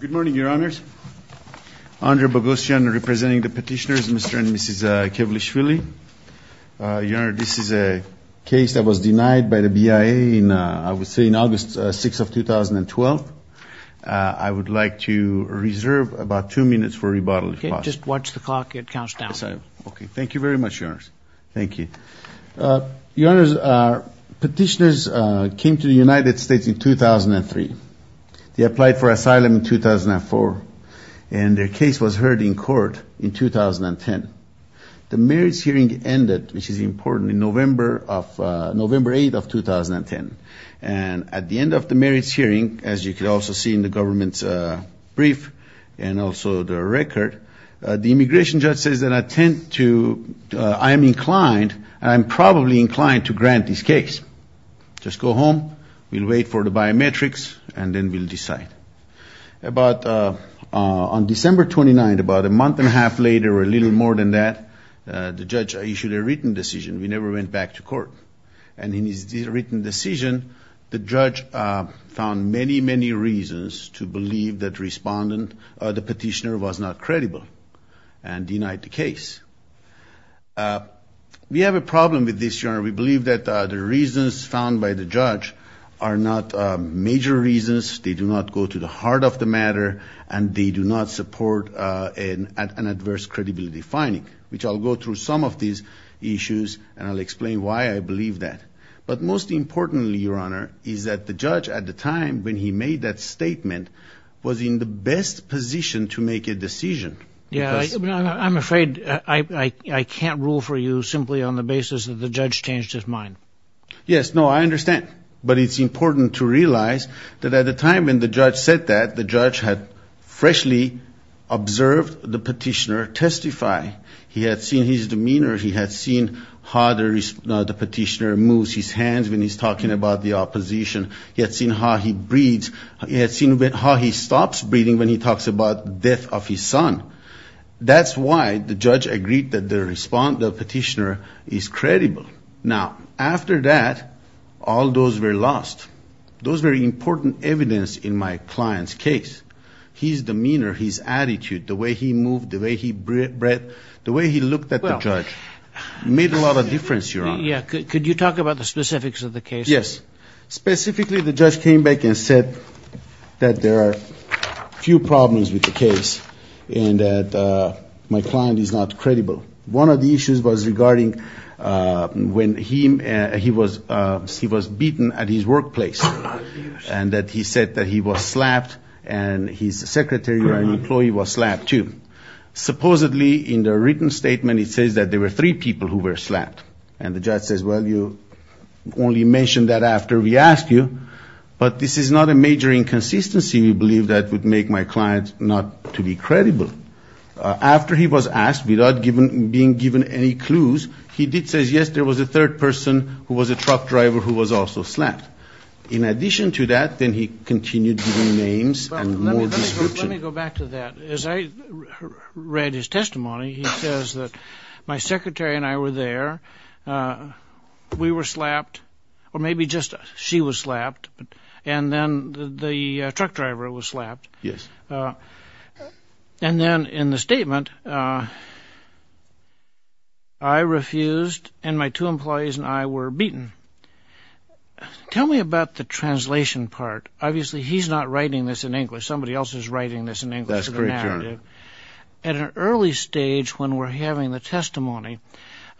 Good morning, Your Honors. Andre Boghossian representing the petitioners, Mr. and Mrs. Kevlishvili. Your Honor, this is a case that was denied by the BIA, I would say, in August 6 of 2012. I would like to reserve about two minutes for rebuttal, if possible. Just watch the clock. It counts down. Okay. Thank you very much, Your Honors. Thank you. Your Honors, petitioners came to the United States in 2003. They applied for asylum in 2004, and their case was heard in court in 2010. The merits hearing ended, which is important, in November 8 of 2010. And at the end of the merits hearing, as you can also see in the government's brief and also the record, the immigration judge says that I am inclined, and I'm probably inclined, to grant this case. Just go home. We'll wait for the biometrics, and then we'll decide. On December 29, about a month and a half later or a little more than that, the judge issued a written decision. We never went back to court. And in his written decision, the judge found many, many reasons to believe that the petitioner was not credible and denied the case. We have a problem with this, Your Honor. We believe that the reasons found by the judge are not major reasons. They do not go to the heart of the matter, and they do not support an adverse credibility finding, which I'll go through some of these issues, and I'll explain why I believe that. But most importantly, Your Honor, is that the judge at the time when he made that statement was in the best position to make a decision. I'm afraid I can't rule for you simply on the basis that the judge changed his mind. Yes, no, I understand. But it's important to realize that at the time when the judge said that, the judge had freshly observed the petitioner testify. He had seen his demeanor. He had seen how the petitioner moves his hands when he's talking about the opposition. He had seen how he breathes. He had seen how he stops breathing when he talks about the death of his son. That's why the judge agreed that the petitioner is credible. Now, after that, all those were lost. Those were important evidence in my client's case. His demeanor, his attitude, the way he moved, the way he breathed, the way he looked at the judge made a lot of difference, Your Honor. Yeah. Could you talk about the specifics of the case? Yes. Specifically, the judge came back and said that there are a few problems with the case and that my client is not credible. One of the issues was regarding when he was beaten at his workplace and that he said that he was slapped and his secretary or employee was slapped, too. Supposedly, in the written statement, it says that there were three people who were slapped. And the judge says, well, you only mentioned that after we asked you, but this is not a major inconsistency, we believe, that would make my client not to be credible. After he was asked, without being given any clues, he did say, yes, there was a third person who was a truck driver who was also slapped. In addition to that, then he continued giving names and more description. Let me go back to that. As I read his testimony, he says that my secretary and I were there. We were slapped, or maybe just she was slapped, and then the truck driver was slapped. Yes. And then in the statement, I refused and my two employees and I were beaten. Tell me about the translation part. Obviously, he's not writing this in English. Somebody else is writing this in English as a narrative. That's correct, Your Honor. At an early stage when we're having the testimony,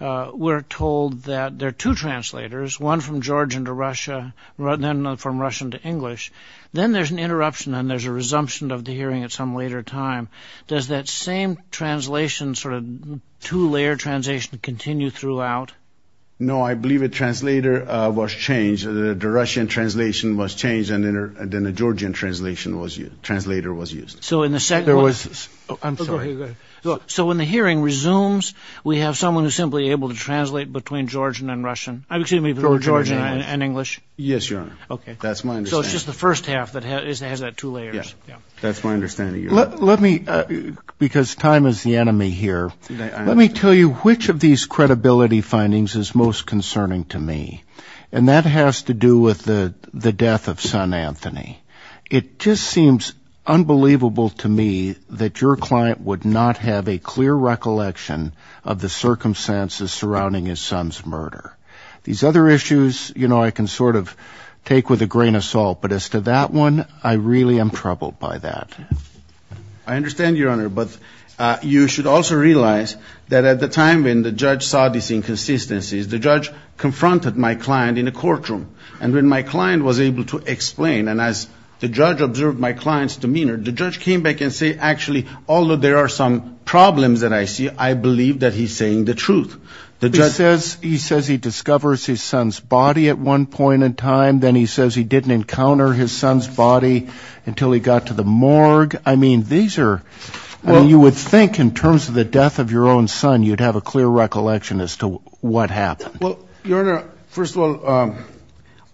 we're told that there are two translators, one from Georgian to Russia, and then from Russian to English. Then there's an interruption and there's a resumption of the hearing at some later time. Does that same translation, sort of two-layer translation, continue throughout? No, I believe a translator was changed. The Russian translation was changed and then a Georgian translator was used. I'm sorry. Go ahead. So when the hearing resumes, we have someone who's simply able to translate between Georgian and English? Yes, Your Honor. Okay. That's my understanding. So it's just the first half that has that two layers. Yeah. That's my understanding, Your Honor. Let me, because time is the enemy here, let me tell you which of these credibility findings is most concerning to me. And that has to do with the death of son Anthony. It just seems unbelievable to me that your client would not have a clear recollection of the circumstances surrounding his son's murder. These other issues, you know, I can sort of take with a grain of salt, but as to that one, I really am troubled by that. I understand, Your Honor, but you should also realize that at the time when the judge saw these inconsistencies, the judge confronted my client in a courtroom. And when my client was able to explain, and as the judge observed my client's demeanor, the judge came back and said, actually, although there are some problems that I see, I believe that he's saying the truth. He says he discovers his son's body at one point in time. Then he says he didn't encounter his son's body until he got to the morgue. I mean, these are, you would think in terms of the death of your own son, you'd have a clear recollection as to what happened. Well, Your Honor, first of all,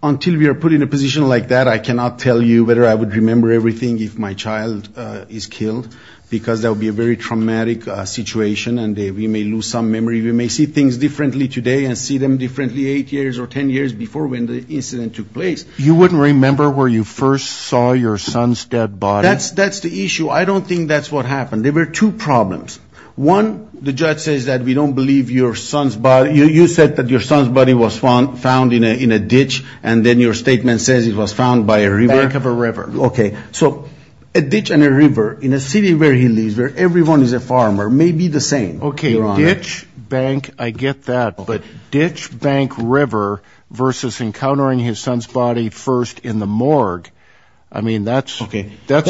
until we are put in a position like that, I cannot tell you whether I would remember everything if my child is killed, because that would be a very traumatic situation and we may lose some memory. We may see things differently today and see them differently eight years or ten years before when the incident took place. You wouldn't remember where you first saw your son's dead body? That's the issue. I don't think that's what happened. There were two problems. One, the judge says that we don't believe your son's body. You said that your son's body was found in a ditch and then your statement says it was found by a river. Back of a river. Okay. So a ditch and a river in a city where he lives, where everyone is a farmer, may be the same, Your Honor. A ditch, bank, I get that. But ditch, bank, river versus encountering his son's body first in the morgue, I mean, that's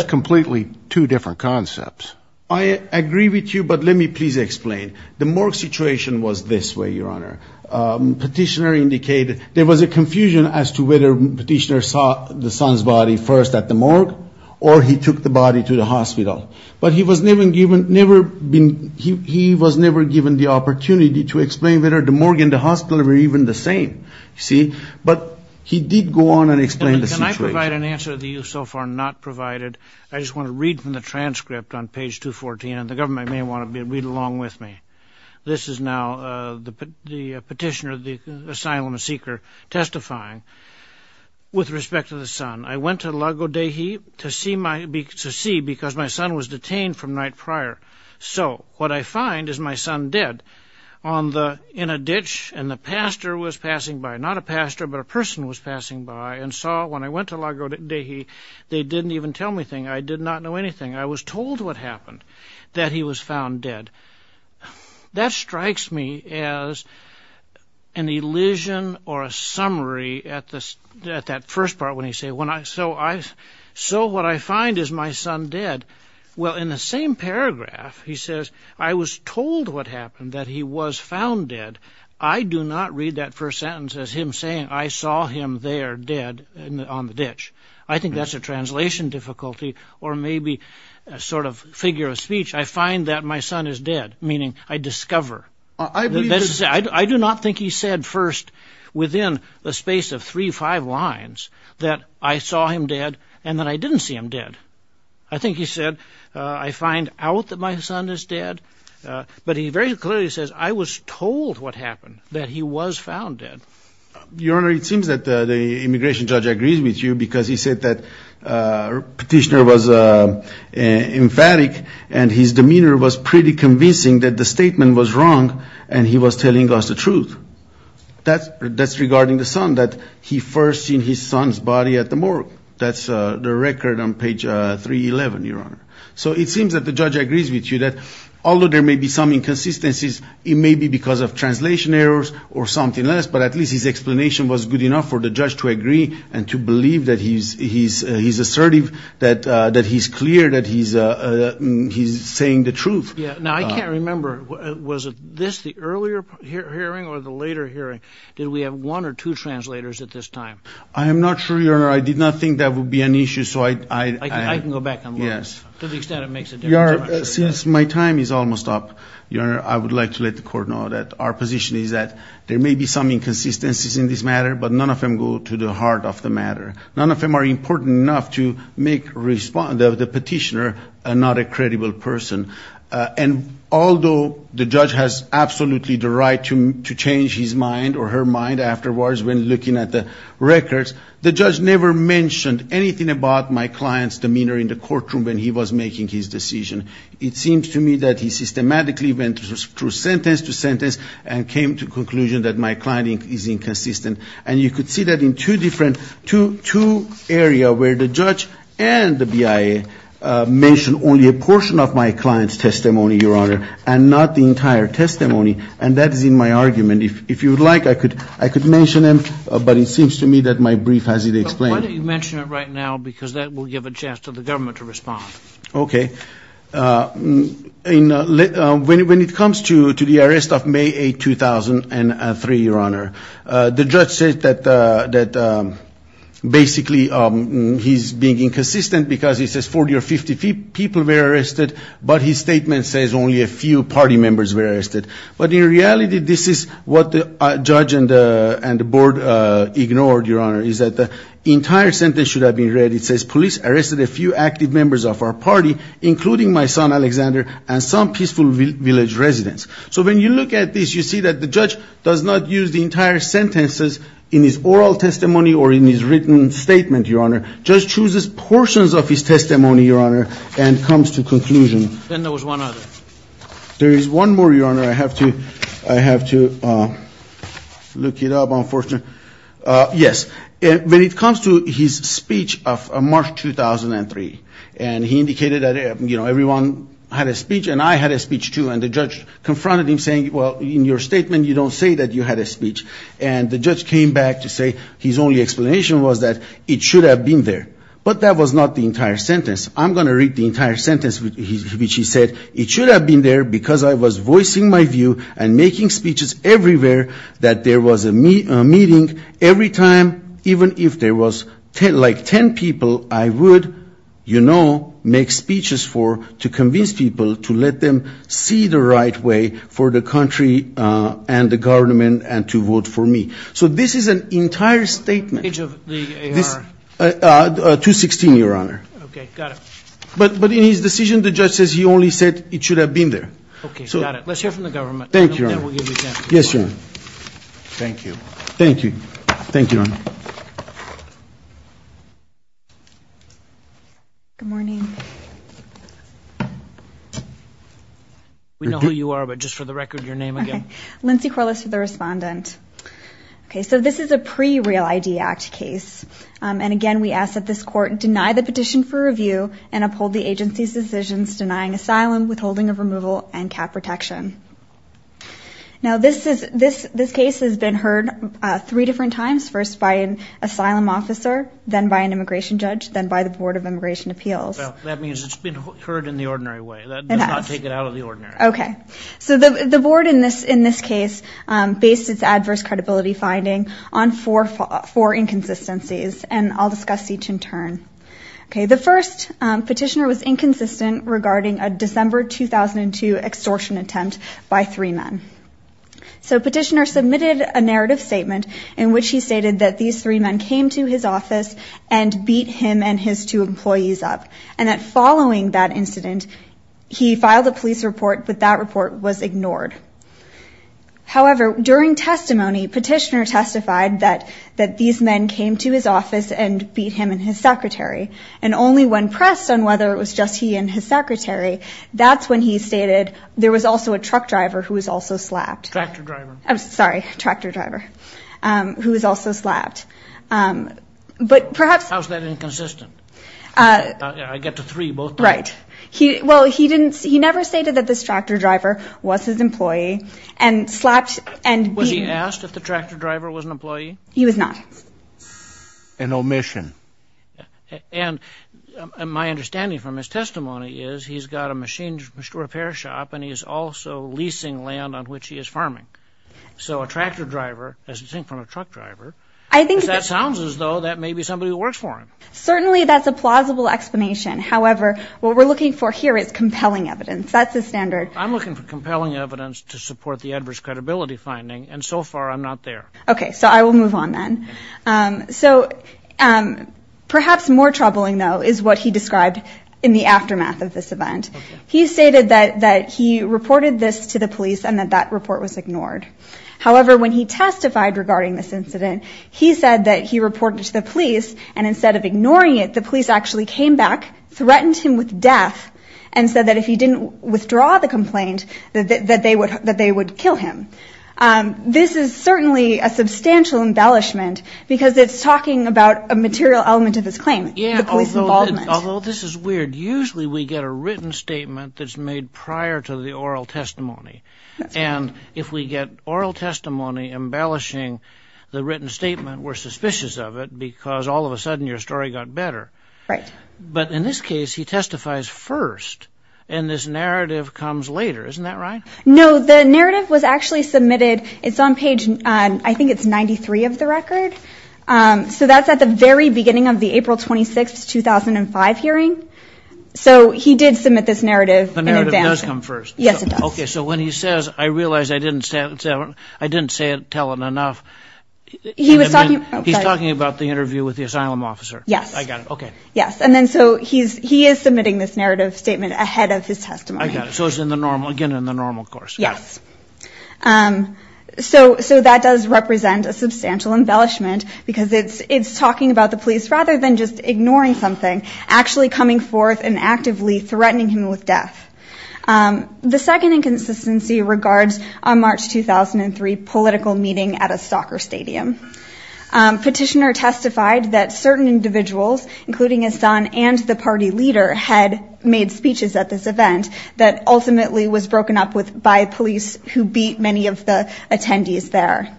completely two different concepts. I agree with you, but let me please explain. The morgue situation was this way, Your Honor. Petitioner indicated there was a confusion as to whether Petitioner saw the son's body first at the morgue or he took the body to the hospital. But he was never given the opportunity to explain whether the morgue and the hospital were even the same, you see. But he did go on and explain the situation. Can I provide an answer that you so far have not provided? I just want to read from the transcript on page 214, and the government may want to read along with me. This is now the petitioner, the asylum seeker, testifying with respect to the son. I went to Lago Dei to see because my son was detained from night prior. So what I find is my son dead in a ditch, and the pastor was passing by. Not a pastor, but a person was passing by and saw. When I went to Lago Dei, they didn't even tell me anything. I did not know anything. I was told what happened, that he was found dead. That strikes me as an elision or a summary at that first part when he says, So what I find is my son dead. Well, in the same paragraph, he says, I was told what happened, that he was found dead. I do not read that first sentence as him saying, I saw him there dead on the ditch. I think that's a translation difficulty or maybe a sort of figure of speech. I find that my son is dead, meaning I discover. I do not think he said first within the space of three or five lines that I saw him dead and that I didn't see him dead. I think he said, I find out that my son is dead. But he very clearly says, I was told what happened, that he was found dead. Your Honor, it seems that the immigration judge agrees with you because he said that petitioner was emphatic and his demeanor was pretty convincing that the statement was wrong and he was telling us the truth. That's regarding the son, that he first seen his son's body at the morgue. That's the record on page 311, Your Honor. So it seems that the judge agrees with you that although there may be some inconsistencies, it may be because of translation errors or something less, but at least his explanation was good enough for the judge to agree and to believe that he's assertive, that he's clear, that he's saying the truth. Now, I can't remember. Was this the earlier hearing or the later hearing? Did we have one or two translators at this time? I am not sure, Your Honor. I did not think that would be an issue. I can go back and look. Yes. To the extent it makes a difference. Your Honor, since my time is almost up, Your Honor, I would like to let the Court know that our position is that there may be some inconsistencies in this matter, but none of them go to the heart of the matter. None of them are important enough to make the petitioner not a credible person. And although the judge has absolutely the right to change his mind or her mind afterwards when looking at the records, the judge never mentioned anything about my client's demeanor in the courtroom when he was making his decision. It seems to me that he systematically went through sentence to sentence and came to the conclusion that my client is inconsistent. And you could see that in two areas where the judge and the BIA mentioned only a portion of my client's testimony, Your Honor, and not the entire testimony. And that is in my argument. If you would like, I could mention them, but it seems to me that my brief has it explained. Why don't you mention it right now because that will give a chance to the government to respond. Okay. When it comes to the arrest of May 8, 2003, Your Honor, the judge said that basically he's being inconsistent because he says 40 or 50 people were arrested, but his statement says only a few party members were arrested. But in reality, this is what the judge and the board ignored, Your Honor, is that the entire sentence should have been read. It says police arrested a few active members of our party, including my son, Alexander, and some peaceful village residents. So when you look at this, you see that the judge does not use the entire sentences in his oral testimony or in his written statement, Your Honor. Judge chooses portions of his testimony, Your Honor, and comes to conclusion. Then there was one other. There is one more, Your Honor. I have to look it up, unfortunately. Yes. When it comes to his speech of March 2003, and he indicated that, you know, everyone had a speech and I had a speech too, and the judge confronted him saying, well, in your statement you don't say that you had a speech. And the judge came back to say his only explanation was that it should have been there. But that was not the entire sentence. I'm going to read the entire sentence which he said, it should have been there because I was voicing my view and making speeches everywhere that there was a meeting. Every time, even if there was like 10 people, I would, you know, make speeches for, to convince people to let them see the right way for the country and the government and to vote for me. So this is an entire statement. Page of the AR. 216, Your Honor. Okay. Got it. But in his decision, the judge says he only said it should have been there. Okay. Got it. Let's hear from the government. Thank you, Your Honor. Yes, Your Honor. Thank you. Thank you. Thank you, Your Honor. Good morning. We know who you are, but just for the record, your name again. Okay. Lindsey Corliss for the respondent. Okay. So this is a pre-Real ID Act case. And again, we ask that this court deny the petition for review and uphold the agency's decisions denying asylum, withholding of removal, and cap protection. Now, this case has been heard three different times, first by an asylum officer, then by an immigration judge, then by the Board of Immigration Appeals. That means it's been heard in the ordinary way. It has. That does not take it out of the ordinary. Okay. So the board in this case based its adverse credibility finding on four inconsistencies, and I'll discuss each in turn. Okay. The first petitioner was inconsistent regarding a December 2002 extortion attempt by three men. So petitioner submitted a narrative statement in which he stated that these three men came to his office and beat him and his two employees up, and that following that incident, he filed a police report, but that report was ignored. However, during testimony, petitioner testified that these men came to his office and beat him and his secretary, and only when pressed on whether it was just he and his secretary, that's when he stated there was also a truck driver who was also slapped. Tractor driver. I'm sorry. Tractor driver who was also slapped. How is that inconsistent? I get to three both times. Right. Well, he never stated that this tractor driver was his employee and slapped and beat him. Was he asked if the tractor driver was an employee? He was not. An omission. And my understanding from his testimony is he's got a machine repair shop and he's also leasing land on which he is farming. So a tractor driver, as distinct from a truck driver, that sounds as though that may be somebody who works for him. Certainly that's a plausible explanation. However, what we're looking for here is compelling evidence. That's the standard. I'm looking for compelling evidence to support the adverse credibility finding, and so far I'm not there. Okay, so I will move on then. So perhaps more troubling, though, is what he described in the aftermath of this event. He stated that he reported this to the police and that that report was ignored. However, when he testified regarding this incident, he said that he reported it to the police, and instead of ignoring it, the police actually came back, threatened him with death, and said that if he didn't withdraw the complaint, that they would kill him. This is certainly a substantial embellishment because it's talking about a material element of his claim, the police involvement. Although this is weird, usually we get a written statement that's made prior to the oral testimony. And if we get oral testimony embellishing the written statement, we're suspicious of it because all of a sudden your story got better. Right. But in this case, he testifies first, and this narrative comes later. Isn't that right? No, the narrative was actually submitted. It's on page, I think it's 93 of the record. So that's at the very beginning of the April 26, 2005 hearing. So he did submit this narrative in advance. The narrative does come first. Yes, it does. Okay, so when he says, I realize I didn't tell it enough. He's talking about the interview with the asylum officer. Yes. I got it. Okay. Yes, and then so he is submitting this narrative statement ahead of his testimony. I got it. So it's again in the normal course. Yes. So that does represent a substantial embellishment because it's talking about the police rather than just ignoring something, actually coming forth and actively threatening him with death. The second inconsistency regards a March 2003 political meeting at a soccer stadium. Petitioner testified that certain individuals, including his son and the party leader, had made speeches at this event that ultimately was broken up by police who beat many of the attendees there.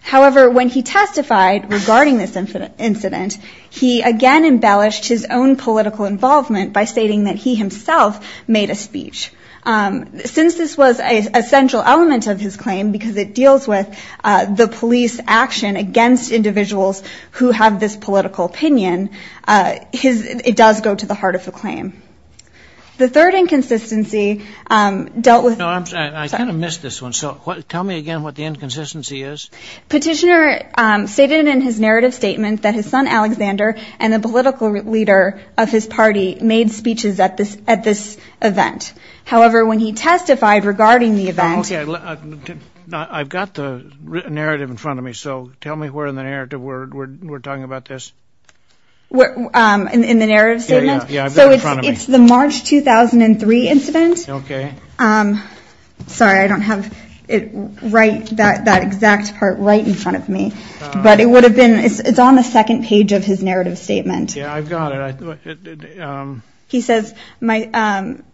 However, when he testified regarding this incident, he again embellished his own political involvement by stating that he himself made a speech. Since this was a central element of his claim because it deals with the police action against individuals who have this political opinion, it does go to the heart of the claim. The third inconsistency dealt with the- I kind of missed this one. So tell me again what the inconsistency is. Petitioner stated in his narrative statement that his son Alexander and the political leader of his party made speeches at this event. However, when he testified regarding the event- Okay, I've got the narrative in front of me. So tell me where in the narrative we're talking about this. In the narrative statement? Yeah, I've got it in front of me. So it's the March 2003 incident. Okay. Sorry, I don't have it right, that exact part right in front of me. But it would have been- It's on the second page of his narrative statement. Yeah, I've got it. He says- I'm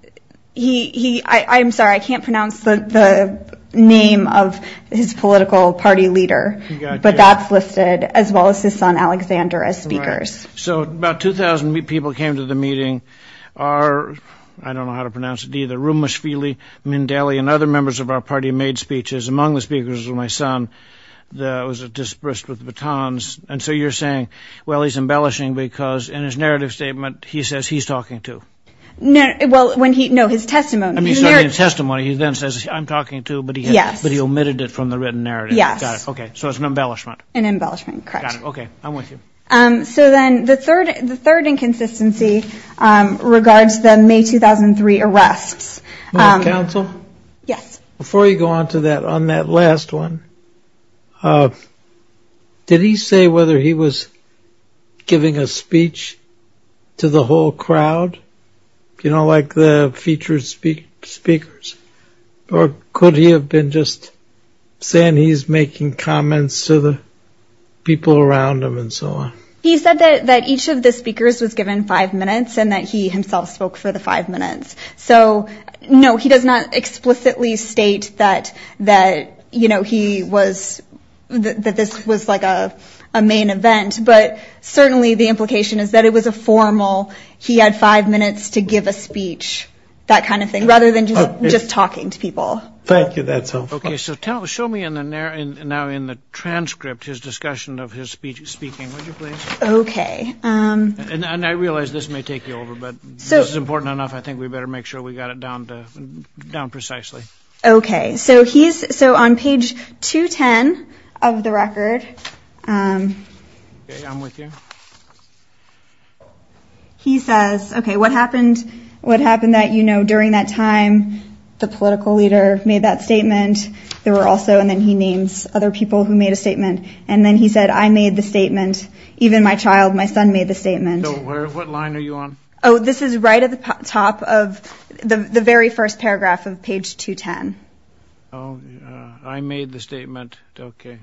sorry, I can't pronounce the name of his political party leader. But that's listed as well as his son Alexander as speakers. So about 2,000 people came to the meeting. Our-I don't know how to pronounce it either- Rumashvili, Mindeli, and other members of our party made speeches. Among the speakers was my son who was dispersed with batons. And so you're saying, well, he's embellishing because in his narrative statement he says he's talking to. Well, when he-no, his testimony. His testimony, he then says, I'm talking to, but he omitted it from the written narrative. Okay, so it's an embellishment. An embellishment, correct. Got it. Okay, I'm with you. So then the third inconsistency regards the May 2003 arrests. Madam Counsel? Yes. Before you go on to that, on that last one, did he say whether he was giving a speech to the whole crowd? You know, like the featured speakers? Or could he have been just saying he's making comments to the people around him and so on? He said that each of the speakers was given five minutes and that he himself spoke for the five minutes. So, no, he does not explicitly state that, you know, he was-that this was like a main event, but certainly the implication is that it was a formal he had five minutes to give a speech, that kind of thing, rather than just talking to people. Thank you, that's helpful. Okay, so show me now in the transcript his discussion of his speaking, would you please? Okay. And I realize this may take you over, but this is important enough. I think we better make sure we got it down to-down precisely. Okay, so he's-so on page 210 of the record- Okay, I'm with you. He says, okay, what happened-what happened that, you know, during that time the political leader made that statement? There were also-and then he names other people who made a statement. And then he said, I made the statement, even my child, my son made the statement. So where-what line are you on? Oh, this is right at the top of the very first paragraph of page 210. Oh, I made the statement, okay.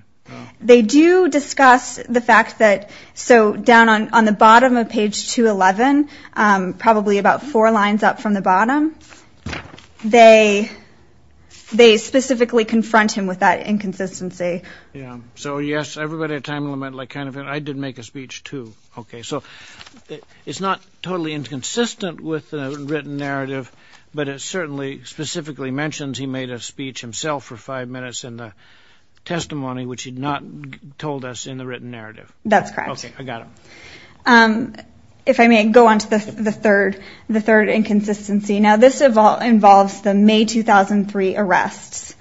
They do discuss the fact that-so down on the bottom of page 211, probably about four lines up from the bottom, they specifically confront him with that inconsistency. Yeah. So, yes, everybody at time limit like kind of-I did make a speech, too. Okay, so it's not totally inconsistent with the written narrative, but it certainly specifically mentions he made a speech himself for five minutes in the testimony, which he'd not told us in the written narrative. That's correct. Okay, I got it. If I may go on to the third-the third inconsistency. Now, this involves the May 2003 arrests.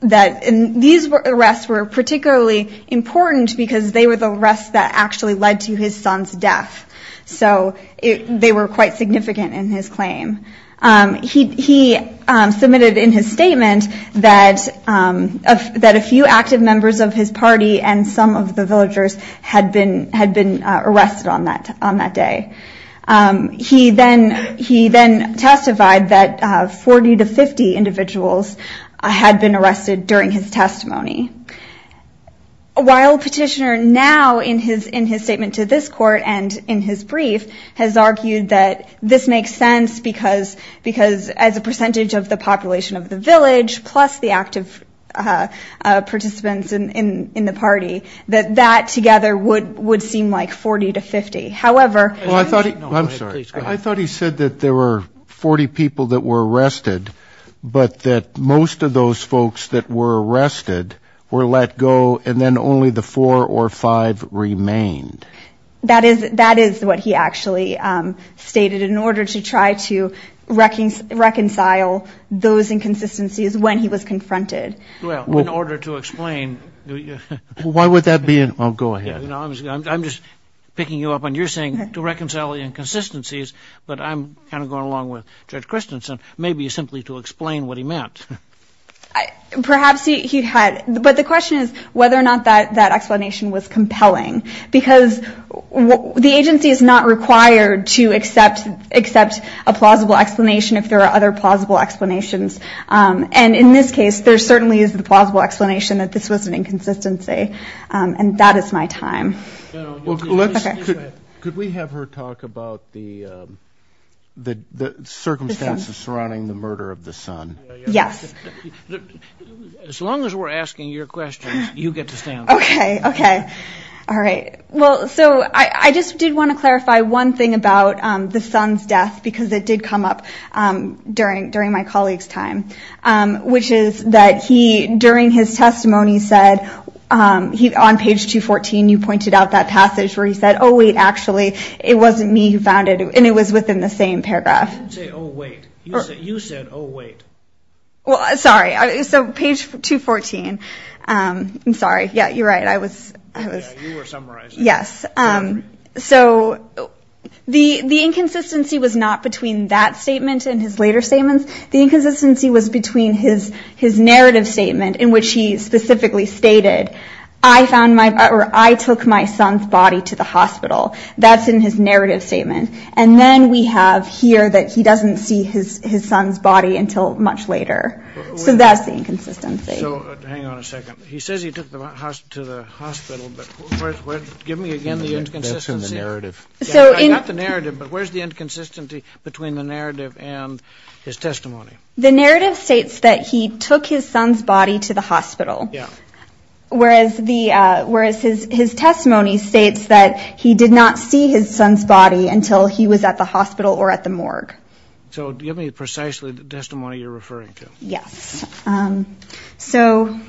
These arrests were particularly important because they were the arrests that actually led to his son's death. So they were quite significant in his claim. He submitted in his statement that a few active members of his party and some of the villagers had been arrested on that day. He then testified that 40 to 50 individuals had been arrested during his testimony. While Petitioner now, in his statement to this court and in his brief, has argued that this makes sense because as a percentage of the population of the village, plus the active participants in the party, that that together would seem like 40 to 50. However- I'm sorry. I thought he said that there were 40 people that were arrested, but that most of those folks that were arrested were let go and then only the four or five remained. That is what he actually stated in order to try to reconcile those inconsistencies when he was confronted. Well, in order to explain- Why would that be-oh, go ahead. I'm just picking you up on your saying to reconcile the inconsistencies, but I'm kind of going along with Judge Christensen, maybe simply to explain what he meant. Perhaps he had-but the question is whether or not that explanation was compelling because the agency is not required to accept a plausible explanation if there are other plausible explanations. And in this case, there certainly is a plausible explanation that this was an inconsistency, and that is my time. Could we have her talk about the circumstances surrounding the murder of the son? Yes. As long as we're asking your questions, you get to stand. Okay, okay. All right. Well, so I just did want to clarify one thing about the son's death because it did come up during my colleague's time, which is that he, during his testimony, said on page 214, you pointed out that passage where he said, oh, wait, actually, it wasn't me who found it, and it was within the same paragraph. Say, oh, wait. You said, oh, wait. Well, sorry. So page 214. I'm sorry. Yeah, you're right. I was- Yeah, you were summarizing. Yes. So the inconsistency was not between that statement and his later statements. The inconsistency was between his narrative statement in which he specifically stated, I took my son's body to the hospital. That's in his narrative statement. And then we have here that he doesn't see his son's body until much later. So that's the inconsistency. So hang on a second. He says he took him to the hospital, but give me again the inconsistency. That's in the narrative. Not the narrative, but where's the inconsistency between the narrative and his testimony? The narrative states that he took his son's body to the hospital, whereas his testimony states that he did not see his son's body until he was at the hospital or at the morgue. So give me precisely the testimony you're referring to. Yes. So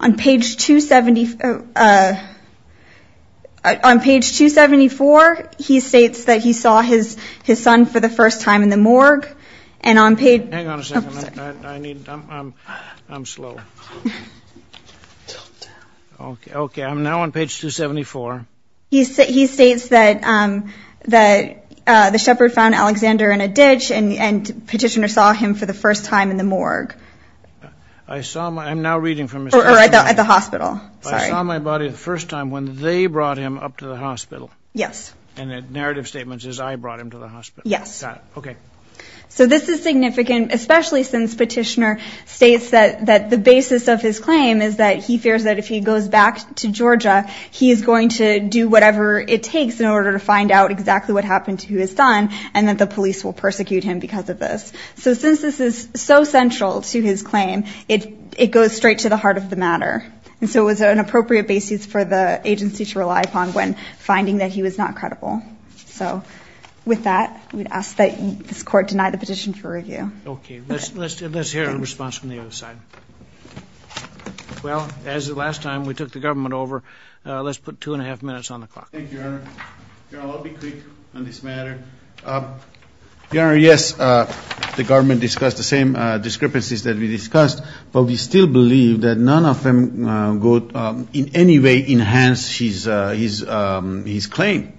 on page 274, he states that he saw his son for the first time in the morgue. Hang on a second. I'm slow. Okay, I'm now on page 274. He states that the shepherd found Alexander in a ditch, and Petitioner saw him for the first time in the morgue. I'm now reading from his testimony. Or at the hospital, sorry. I saw my body the first time when they brought him up to the hospital. Yes. And the narrative statement says I brought him to the hospital. Yes. Got it, okay. So this is significant, especially since Petitioner states that the basis of his claim is that he fears that if he goes back to Georgia, he is going to do whatever it takes in order to find out exactly what happened to his son, and that the police will persecute him because of this. So since this is so central to his claim, it goes straight to the heart of the matter. And so it was an appropriate basis for the agency to rely upon when finding that he was not credible. So with that, we'd ask that this Court deny the petition for review. Okay. Let's hear a response from the other side. Well, as the last time, we took the government over. Let's put two and a half minutes on the clock. Thank you, Your Honor. Your Honor, I'll be quick on this matter. Your Honor, yes, the government discussed the same discrepancies that we discussed, but we still believe that none of them in any way enhance his claim.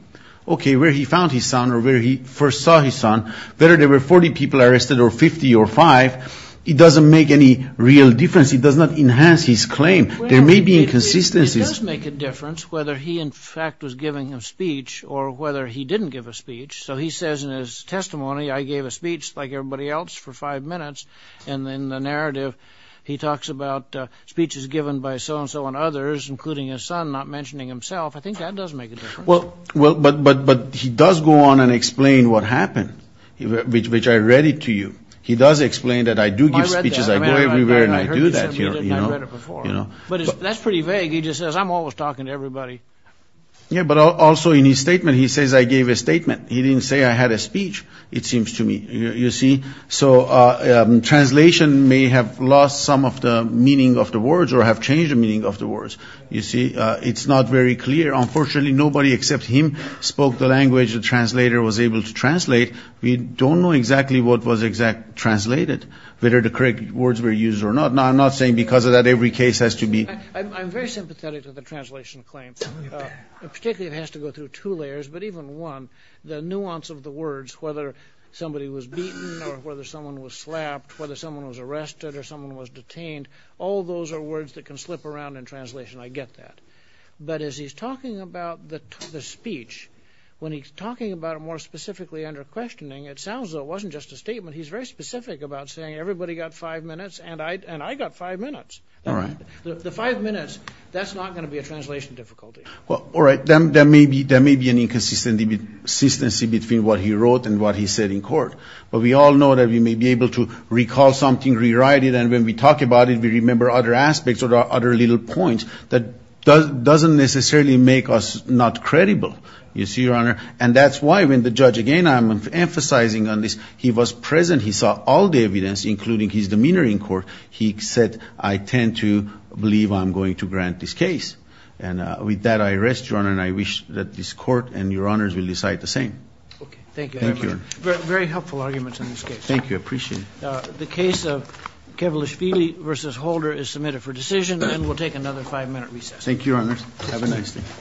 Okay, where he found his son or where he first saw his son, whether there were 40 people arrested or 50 or 5, it doesn't make any real difference. It does not enhance his claim. There may be inconsistencies. It does make a difference whether he, in fact, was giving a speech or whether he didn't give a speech. So he says in his testimony, I gave a speech like everybody else for five minutes, and in the narrative he talks about speeches given by so-and-so and others, including his son, not mentioning himself. I think that does make a difference. Well, but he does go on and explain what happened, which I read it to you. He does explain that I do give speeches. I go everywhere and I do that, you know. But that's pretty vague. He just says I'm always talking to everybody. Yeah, but also in his statement, he says I gave a statement. He didn't say I had a speech, it seems to me, you see. So translation may have lost some of the meaning of the words or have changed the meaning of the words, you see. It's not very clear. Unfortunately, nobody except him spoke the language the translator was able to translate. We don't know exactly what was translated, whether the correct words were used or not. I'm not saying because of that every case has to be. I'm very sympathetic to the translation claim. Particularly it has to go through two layers, but even one, the nuance of the words, whether somebody was beaten or whether someone was slapped, whether someone was arrested or someone was detained, all those are words that can slip around in translation. I get that. But as he's talking about the speech, when he's talking about it more specifically under questioning, it sounds as though it wasn't just a statement. He's very specific about saying everybody got five minutes and I got five minutes. All right. The five minutes, that's not going to be a translation difficulty. Well, all right. There may be an inconsistency between what he wrote and what he said in court. But we all know that we may be able to recall something, rewrite it, and when we talk about it, we remember other aspects or other little points that doesn't necessarily make us not credible. You see, Your Honor? And that's why when the judge, again, I'm emphasizing on this, he was present. He saw all the evidence, including his demeanor in court. He said, I tend to believe I'm going to grant this case. And with that, I rest, Your Honor, and I wish that this court and Your Honors will decide the same. Okay. Thank you. Very helpful arguments in this case. Thank you. I appreciate it. The case of Kevlish-Feeley v. Holder is submitted for decision, and we'll take another five-minute recess. Thank you, Your Honor. Have a nice day.